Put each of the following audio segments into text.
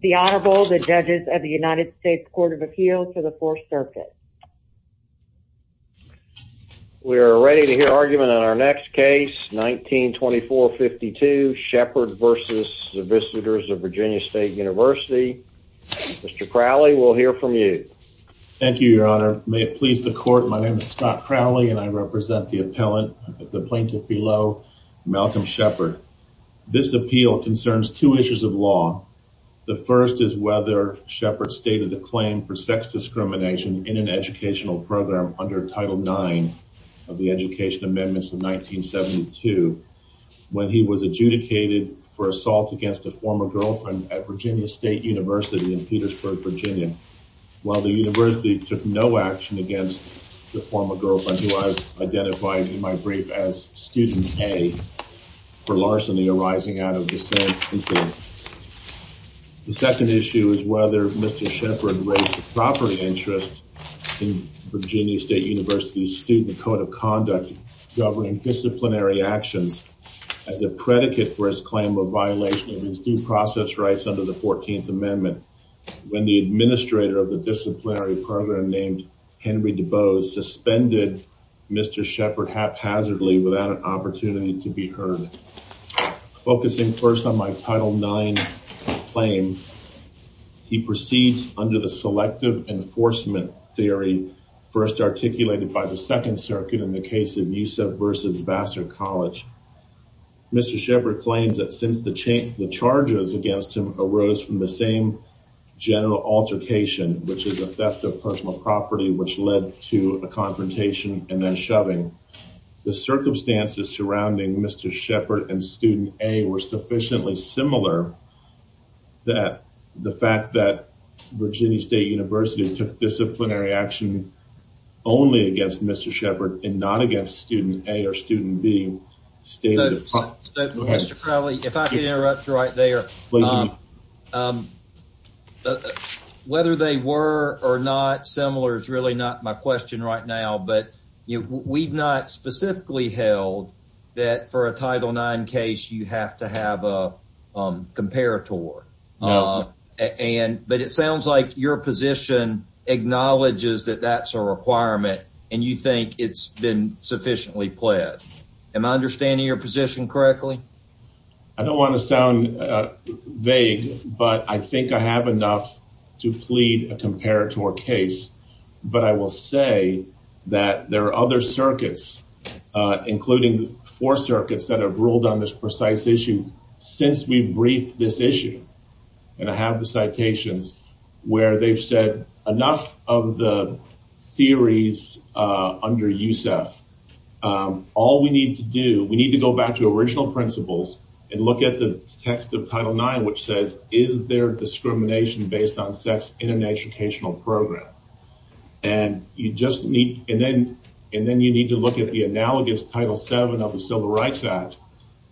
The Honorable, the Judges of the United States Court of Appeal to the 4th Circuit. We are ready to hear argument on our next case 1924-52 Sheppard versus the Visitors of Virginia State University. Mr. Crowley, we'll hear from you. Thank you, Your Honor. May it please the court, my name is Scott Crowley and I represent the appellant, the plaintiff below, Malcolm Sheppard. This appeal concerns two issues of law. The first is whether Sheppard stated the claim for sex discrimination in an educational program under Title IX of the Education Amendments of 1972 when he was adjudicated for assault against a former girlfriend at Virginia State University in Petersburg, Virginia. While the university took no action against the former girlfriend, who I've identified in my brief as student A, for larceny arising out of dissent. The second issue is whether Mr. Sheppard raised the property interest in Virginia State University's Student Code of Conduct governing disciplinary actions as a predicate for his claim of violation of his due process rights under the 14th Amendment when the administrator of the disciplinary program named Henry DeBose suspended Mr. Sheppard haphazardly without an opportunity to be heard. Focusing first on my Title IX claim, he proceeds under the selective enforcement theory first articulated by the Second Circuit in the case of Yusef versus Vassar College. Mr. Sheppard claims that since the charges against him arose from the same general altercation, which is a theft of personal property, which led to a confrontation and then shoving, the circumstances surrounding Mr. Sheppard and student A were sufficiently similar that the fact that Virginia State University took disciplinary action only against Mr. Sheppard and not against student A or student B stated. Mr. Crowley, if I can Mr. Miller is really not my question right now, but we've not specifically held that for a Title IX case you have to have a comparator. But it sounds like your position acknowledges that that's a requirement and you think it's been sufficiently pled. Am I understanding your position correctly? I don't want to but I will say that there are other circuits, including the four circuits that have ruled on this precise issue, since we briefed this issue and I have the citations where they've said enough of the theories under Yusef. All we need to do, we need to go back to original principles and look at the text of Title IX which says is there discrimination based on sex in an educational program? And you just need and then and then you need to look at the analogous Title VII of the Civil Rights Act.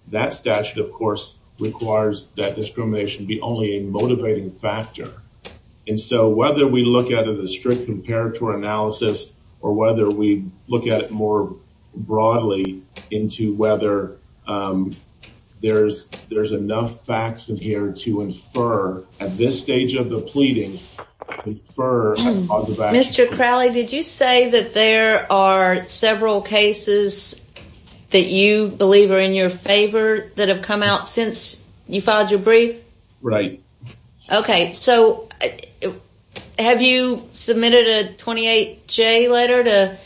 That statute of course requires that discrimination be only a motivating factor and so whether we look at it a strict comparator analysis or whether we look at it more broadly into whether there's there's Mr. Crowley did you say that there are several cases that you believe are in your favor that have come out since you filed your brief? Right. Okay so have you submitted a 28 J letter to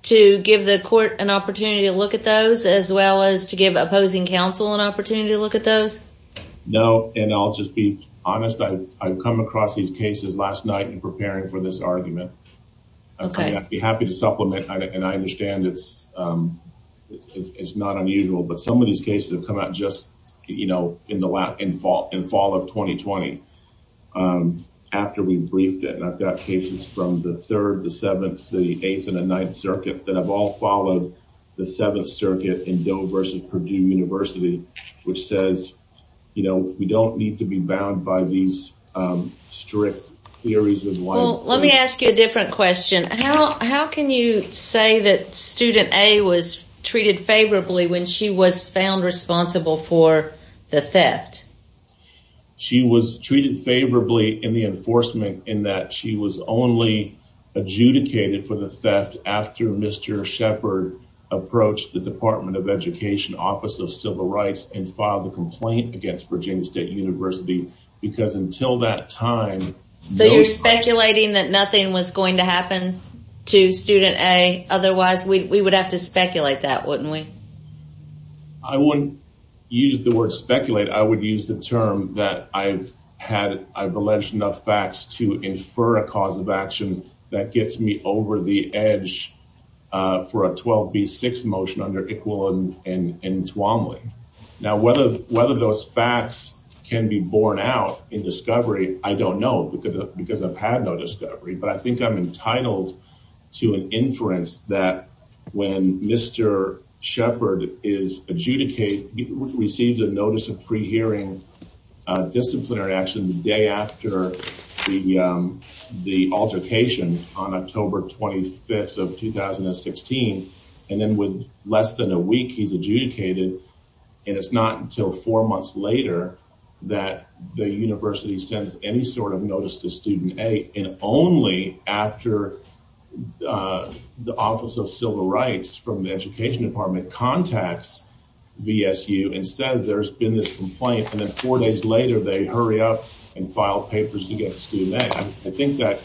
to give the court an opportunity to look at those as well as to give opposing counsel an opportunity to look at those? No and I'll just be honest I've come across these cases last night in preparing for this argument. Okay. I'd be happy to supplement and I understand it's it's not unusual but some of these cases have come out just you know in the lap in fall in fall of 2020 after we've briefed it and I've got cases from the 3rd, the 7th, the 8th and the 9th circuits that have all followed the 7th circuit in Doe versus Purdue University which says you know we don't need to be bound by these strict theories of life. Let me ask you a different question how how can you say that student A was treated favorably when she was found responsible for the theft? She was treated favorably in the enforcement in that she was only adjudicated for the theft after Mr. Shepard approached the Department of Education Office of Civil Rights and filed a complaint against Virginia State University because until that time... So you're speculating that nothing was going to happen to student A otherwise we would have to speculate that wouldn't we? I wouldn't use the word speculate I would use the term that I've had I've had a cause of action that gets me over the edge for a 12b6 motion under Iqbal and Twombly. Now whether whether those facts can be borne out in discovery I don't know because because I've had no discovery but I think I'm entitled to an inference that when Mr. Shepard is adjudicated he received a notice of pre-hearing disciplinary action the day after the altercation on October 25th of 2016 and then with less than a week he's adjudicated and it's not until four months later that the university sends any sort of notice to student A and only after the Office of Civil Rights from the Education Department contacts VSU and says there's been this complaint and then four days later they hurry up and file papers against student A. I think that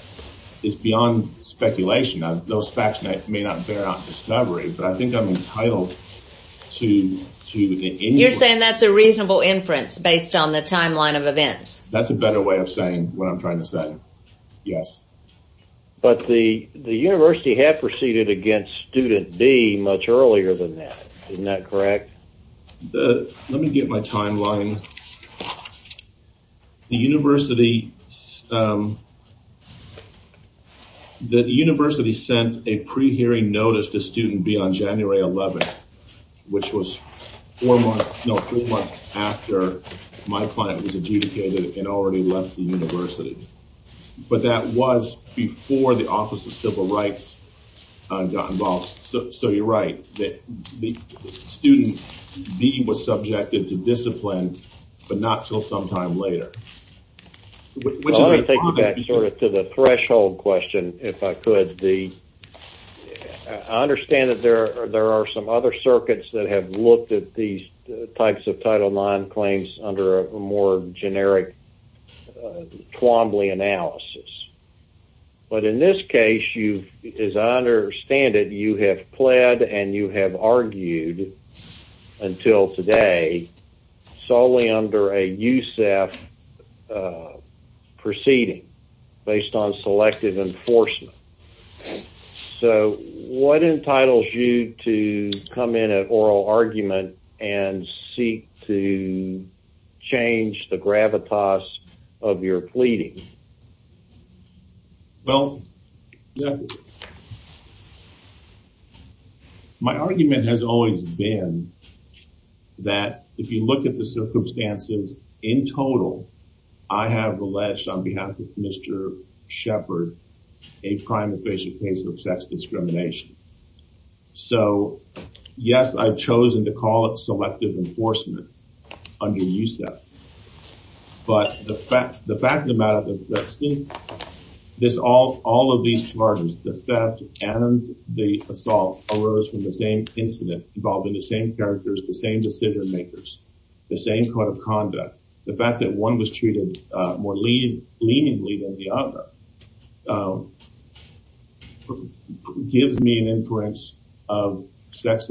is beyond speculation those facts may not bear out discovery but I think I'm entitled to... You're saying that's a reasonable inference based on the timeline of events? That's a better way of saying what I'm trying to say yes. But the university had proceeded against student B much earlier than that. Isn't that correct? Let me get my timeline. The university sent a pre-hearing notice to student B on January 11th which was four months, no three months after my client was adjudicated and already left the Office of Civil Rights got involved. So you're right that the student B was subjected to discipline but not till sometime later. I want to take you back to the threshold question if I could. I understand that there are some other circuits that have looked at these types of Title IX claims under a more you as I understand it you have pled and you have argued until today solely under a USEF proceeding based on selective enforcement. So what entitles you to come in at oral argument and seek to change the gravitas of your pleading? Well my argument has always been that if you look at the circumstances in total I have alleged on behalf of Mr. Shepard a prime official case of sex discrimination. So yes I've chosen to call it selective enforcement under USEF but the fact the fact of the matter that since this all all of these charges the theft and the assault arose from the same incident involving the same characters the same decision-makers the same code of conduct the fact that one was treated more lean leaningly than the other gives me an influence of sex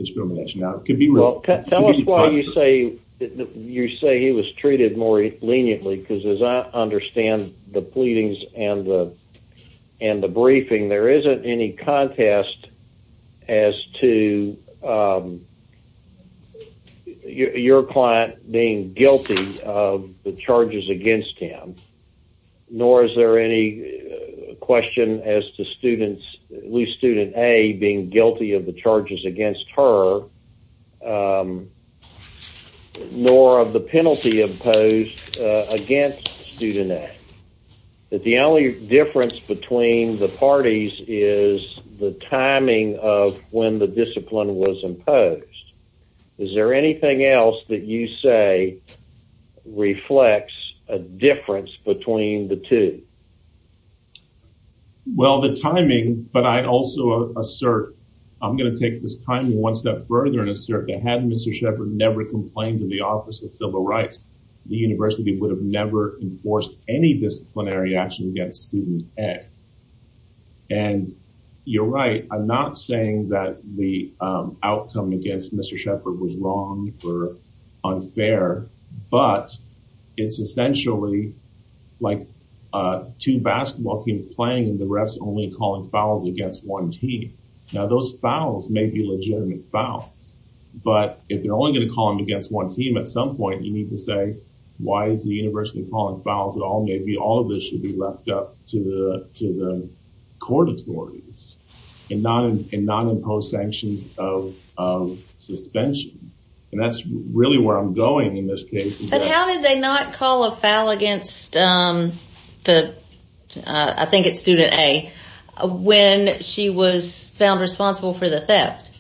treated more leniently because as I understand the pleadings and the and the briefing there isn't any contest as to your client being guilty of the charges against him nor is there any question as to students loose student a being guilty of the charges against her nor of the penalty imposed against student a that the only difference between the parties is the timing of when the discipline was imposed is there anything else that you say reflects a difference between the two? Well the timing but I also assert I'm gonna take this time one step further and assert that had Mr. Shepard never complained to the Office of Civil Rights the university would have never enforced any disciplinary action against student a and you're right I'm not saying that the outcome against Mr. Shepard was wrong or unfair but it's essentially like two basketball teams playing and the refs only calling fouls against one team now those fouls may be legitimate fouls but if they're only gonna call them against one team at some point you need to say why is the university calling fouls at all maybe all of this should be left up to the to the court authorities and not in non-imposed sanctions of suspension and that's really where I'm going in this case. But how did they not call a foul against the I think it's student a when she was found responsible for the theft?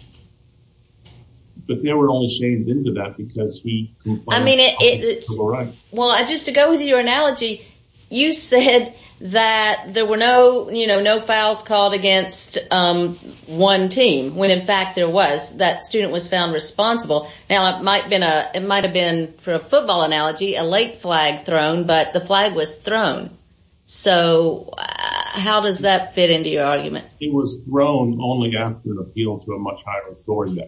But they were only shamed into that because he I mean it well I just to go with your analogy you said that there were no you in fact there was that student was found responsible now it might been a it might have been for a football analogy a late flag thrown but the flag was thrown so how does that fit into your argument? It was thrown only after the appeal to a much higher authority.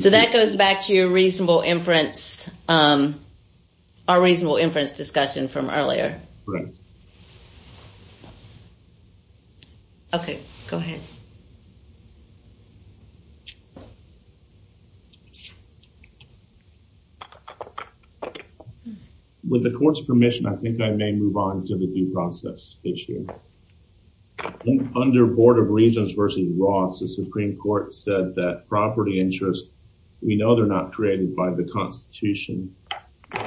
So that goes back to your reasonable inference our With the court's permission I think I may move on to the due process issue. Under Board of Regents versus Ross the Supreme Court said that property interest we know they're not created by the Constitution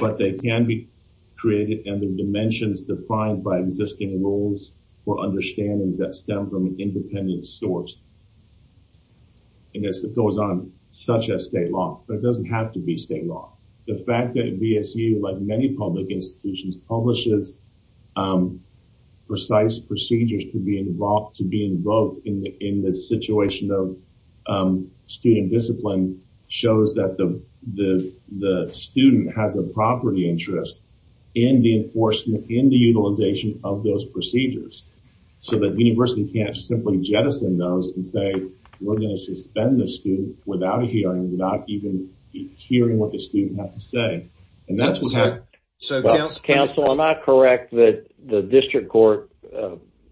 but they can be created and the dimensions defined by existing rules or understandings that stem from and it's that goes on such as state law but it doesn't have to be state law. The fact that BSU like many public institutions publishes precise procedures to be involved to be invoked in the in this situation of student discipline shows that the the the student has a property interest in the enforcement in the utilization of those procedures so that university can't simply jettison those and say we're going to suspend the student without hearing without even hearing what the student has to say and that's what I so counsel am I correct that the district court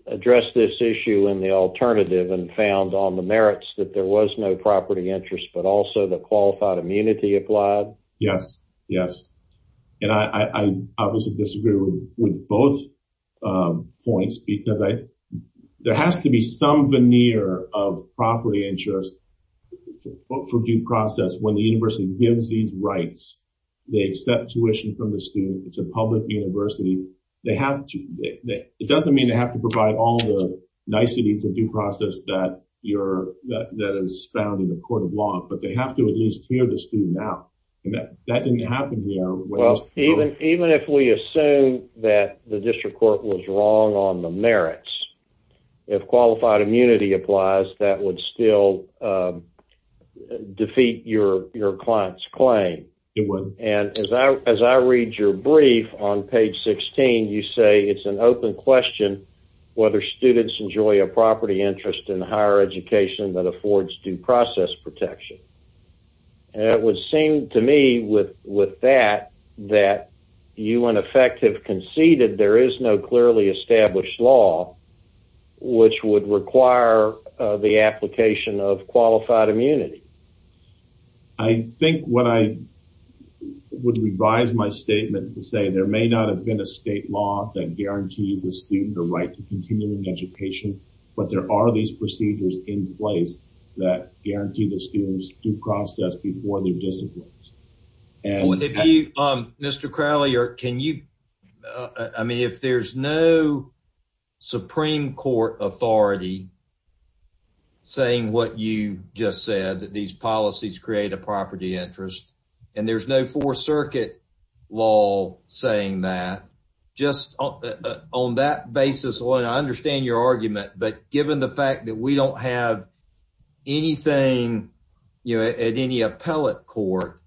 addressed this issue in the alternative and found on the merits that there was no property interest but also the qualified immunity applied? Yes yes and I obviously disagree with both points because I there has to be some veneer of property interest for due process when the university gives these rights they accept tuition from the student it's a public university they have to it doesn't mean they have to provide all the niceties of due process that you're that is found in the court of law but they have to at least hear the student out and that didn't happen well even even if we assume that the district court was wrong on the merits if qualified immunity applies that would still defeat your your clients claim it would and as I as I read your brief on page 16 you say it's an open question whether students enjoy a property interest in higher education that that you an effective conceded there is no clearly established law which would require the application of qualified immunity. I think what I would revise my statement to say there may not have been a state law that guarantees a student the right to continuing education but there are these procedures in place that Mr. Crowley or can you I mean if there's no Supreme Court authority saying what you just said that these policies create a property interest and there's no Fourth Circuit law saying that just on that basis when I understand your argument but given the fact that we don't have anything you know at any appellate court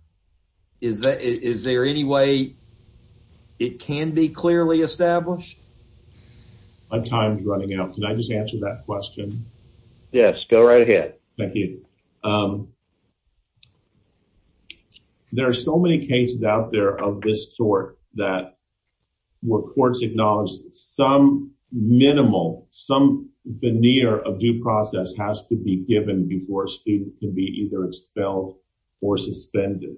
is that is there any way it can be clearly established? My time's running out can I just answer that question? Yes go right ahead. Thank you. There are so many cases out there of this sort that where courts acknowledge some minimal some veneer of due process has to be given before a student can be either expelled or suspended.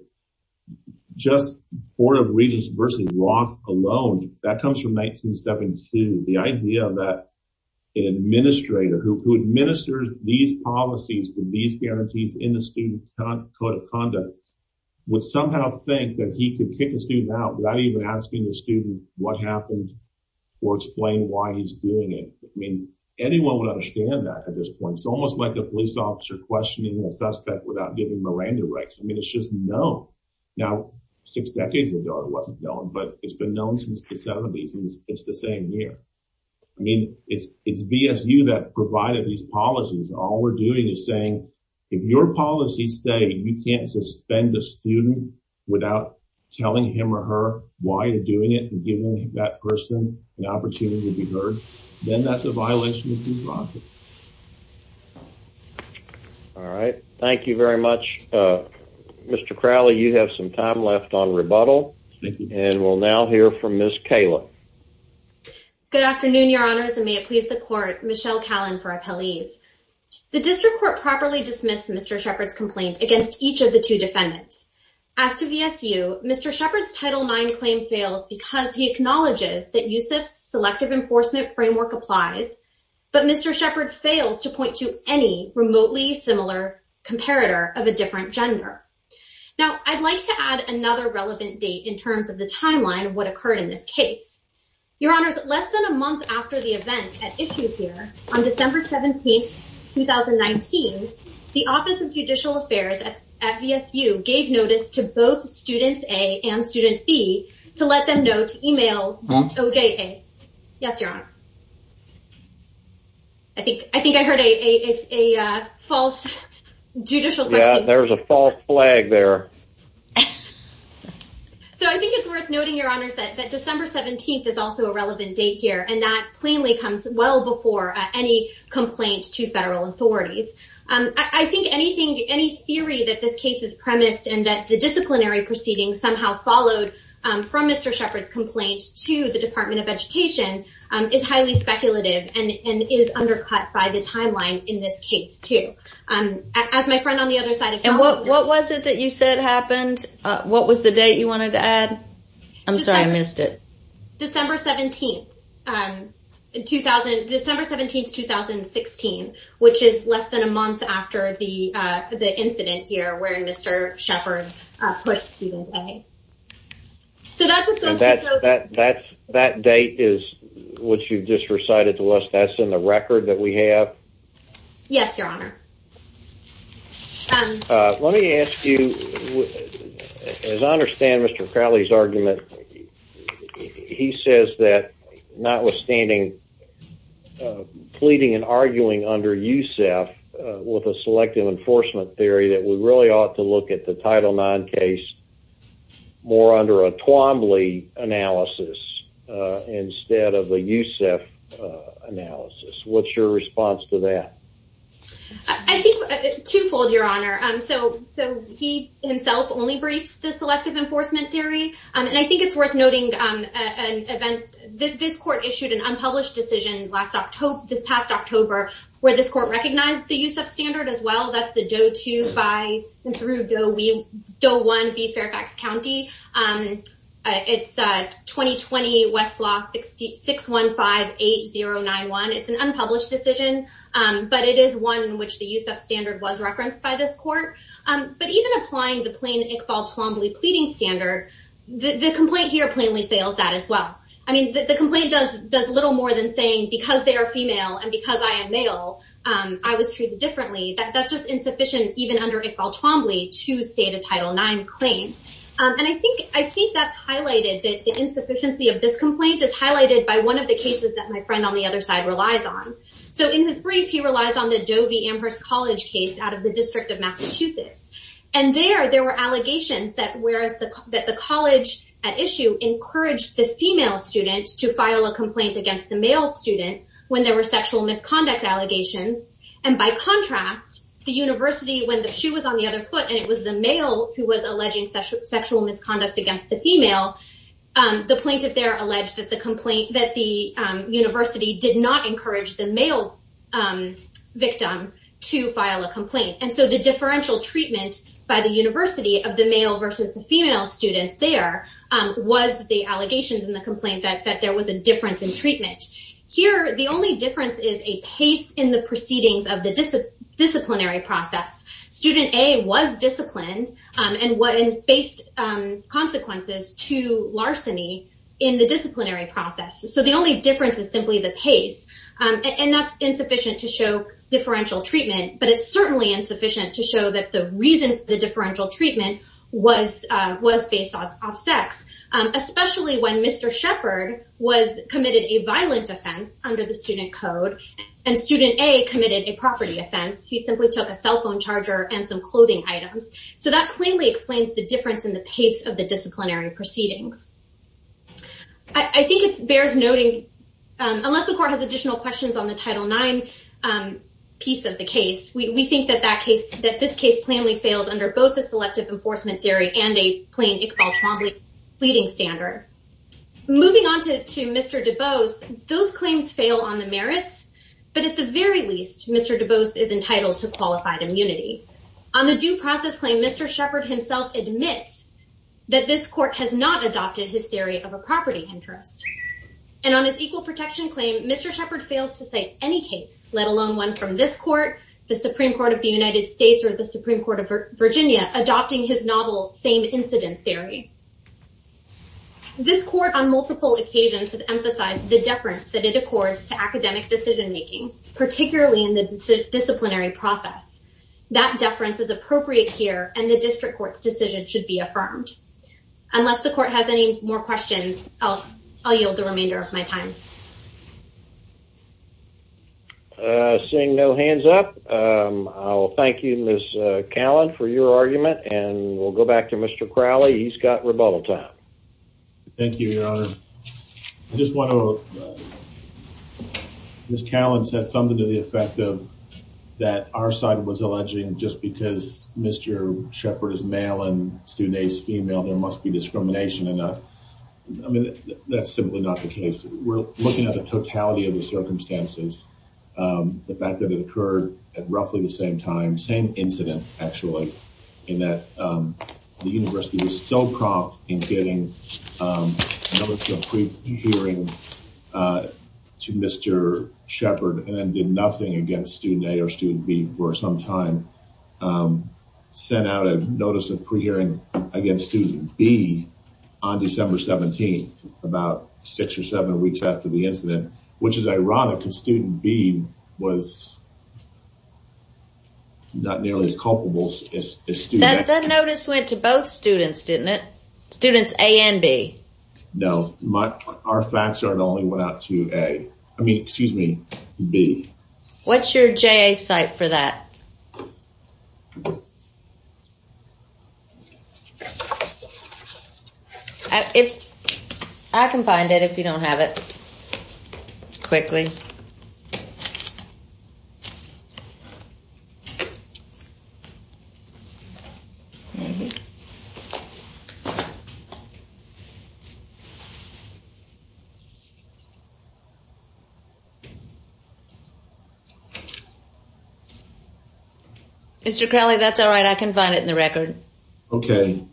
Just Board of Regents versus Roth alone that comes from 1972 the idea that an administrator who administers these policies with these guarantees in the student code of conduct would somehow think that he could kick a student out without even asking the student what happened or explain why he's doing it. I mean anyone would understand that at this point it's like a police officer questioning a suspect without giving Miranda rights. I mean it's just known now six decades ago it wasn't known but it's been known since the seventies and it's the same year. I mean it's it's VSU that provided these policies all we're doing is saying if your policies say you can't suspend the student without telling him or her why you're doing it and giving that person an opportunity to be heard then that's a violation of due process. All right thank you very much. Mr. Crowley you have some time left on rebuttal and we'll now hear from Miss Kayla. Good afternoon your honors and may it please the court Michelle Callen for appellees. The district court properly dismissed Mr. Shepard's complaint against each of the two defendants. As to VSU Mr. Shepard's title 9 claim fails because he acknowledges that USIF's selective enforcement framework applies but Mr. Shepard fails to point to any remotely similar comparator of a different gender. Now I'd like to add another relevant date in terms of the timeline of what occurred in this case. Your honors less than a month after the event at issue here on December 17th 2019 the Office of to let them know to email OJA. Yes your honor. I think I think I heard a false judicial question. There's a false flag there. So I think it's worth noting your honors that that December 17th is also a relevant date here and that plainly comes well before any complaint to federal authorities. I think anything any theory that this case is premised and that the disciplinary proceedings somehow followed from Mr. Shepard's complaint to the Department of Education is highly speculative and is undercut by the timeline in this case too. As my friend on the other side. And what what was it that you said happened? What was the date you wanted to add? I'm sorry I missed it. December 17th 2016 which is less than a So that's that's that date is what you've just recited to us that's in the record that we have? Yes your honor. Let me ask you as I understand Mr. Crowley's argument he says that notwithstanding pleading and arguing under USEF with a selective enforcement theory that we really ought to look at the Title IX case more under a Twombly analysis instead of a USEF analysis. What's your response to that? I think twofold your honor. So he himself only briefs the selective enforcement theory and I think it's worth noting an event that this court issued an unpublished decision last October this past October where this court recognized the USEF standard as well that's the Doe 2 by and through Doe 1 v Fairfax County. It's a 2020 Westlaw 6158091. It's an unpublished decision but it is one in which the USEF standard was referenced by this court. But even applying the plain Iqbal Twombly pleading standard the complaint here plainly fails that as well. I mean the complaint does does a little more than saying because they are female and because I am male I was to state a Title IX claim and I think I think that's highlighted that the insufficiency of this complaint is highlighted by one of the cases that my friend on the other side relies on. So in his brief he relies on the Doe v. Amherst College case out of the District of Massachusetts and there there were allegations that whereas the that the college at issue encouraged the female students to file a complaint against the male student when there were sexual misconduct allegations and by contrast the University when the shoe was on the other foot and it was the male who was alleging sexual misconduct against the female the plaintiff there alleged that the complaint that the University did not encourage the male victim to file a complaint and so the differential treatment by the University of the male versus the female students there was the allegations in the complaint that that there was a difference in treatment. Here the only difference is a pace in the proceedings of the disciplinary process. Student A was disciplined and faced consequences to larceny in the disciplinary process so the only difference is simply the pace and that's insufficient to show differential treatment but it's certainly insufficient to show that the reason the differential treatment was was based off sex especially when Mr. Shepard was committed a violent offense under the cell phone charger and some clothing items so that plainly explains the difference in the pace of the disciplinary proceedings. I think it bears noting unless the court has additional questions on the title 9 piece of the case we think that that case that this case plainly fails under both the selective enforcement theory and a plain Iqbal Twombly pleading standard. Moving on to to Mr. DuBose those claims fail on the merits but at the very least Mr. DuBose is entitled to qualified immunity. On the due process claim Mr. Shepard himself admits that this court has not adopted his theory of a property interest and on his equal protection claim Mr. Shepard fails to say any case let alone one from this court the Supreme Court of the United States or the Supreme Court of Virginia adopting his novel same incident theory. This court on multiple occasions has emphasized the deference that it accords to academic decision-making particularly in the disciplinary process. That deference is appropriate here and the district court's decision should be affirmed. Unless the court has any more questions I'll yield the remainder of my time. Seeing no hands up I'll thank you Ms. Callan for your argument and we'll go back to Mr. Crowley he's got rebuttal time. Thank you I just want to Ms. Callan said something to the effect of that our side was alleging just because Mr. Shepard is male and student A's female there must be discrimination and I mean that's simply not the case we're looking at the totality of the circumstances the fact that it occurred at roughly the same time same incident actually in that the university was so prompt in getting notice of pre-hearing to Mr. Shepard and then did nothing against student A or student B for some time sent out a notice of pre-hearing against student B on December 17th about six or seven weeks after the incident which is ironic because student B was not nearly as culpable as student A. That notice went to both students didn't it? Students A and B. No, our facts are it only went out to A I mean excuse me B. What's your JA site for that? I can find it if you don't have it quickly. Mr. Crowley that's all right I can find it in the record. Okay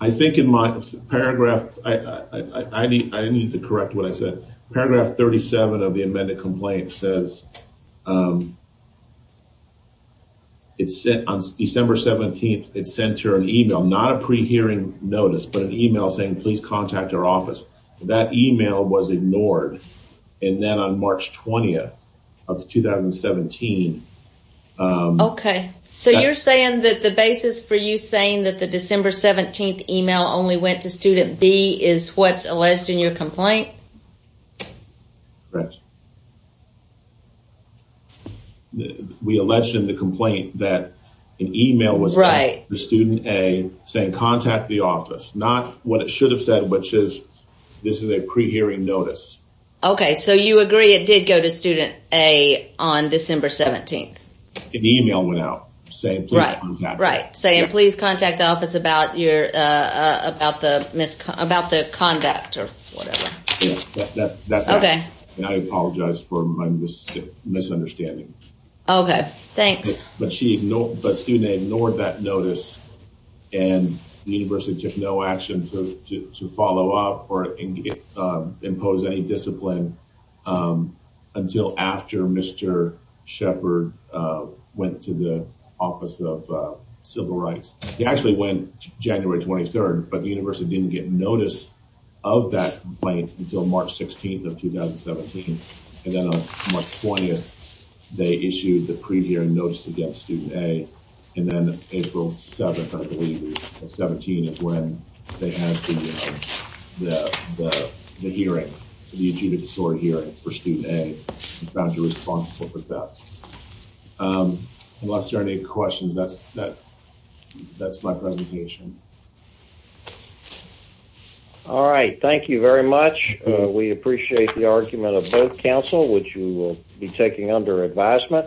I think in my paragraph I need to correct what I said paragraph 37 of the amended complaint says it's set on December 17th it's sent her an email not a pre-hearing notice but an email saying please contact our office that email was ignored and then on March 20th of 2017. Okay so you're saying that the basis for you saying that the December 17th email only went to student B is what's alleged in your complaint? We alleged in the complaint that an email was right the student A saying contact the office not what it should have said which is this is a pre-hearing notice. Okay so you agree it did go to student A on December 17th. An email went out saying right right saying please contact the office about your about the misconduct about the conduct or whatever. That's okay and I apologize for my misunderstanding. Okay thanks. But student A ignored that notice and the university took no action to follow up or impose any discipline until after Mr. Shepard went to the Office of Civil Rights. He actually went January 23rd but the university didn't get notice of that complaint until March 16th of 2017 and then on March 20th they issued the pre-hearing notice against student A and then April 7th I believe of 17 is when they have the hearing the adjudicatory hearing for student A found you responsible for theft. Unless there are any questions that's that that's my presentation. All right thank you very much we appreciate the argument of both council which you will be taking under advisement.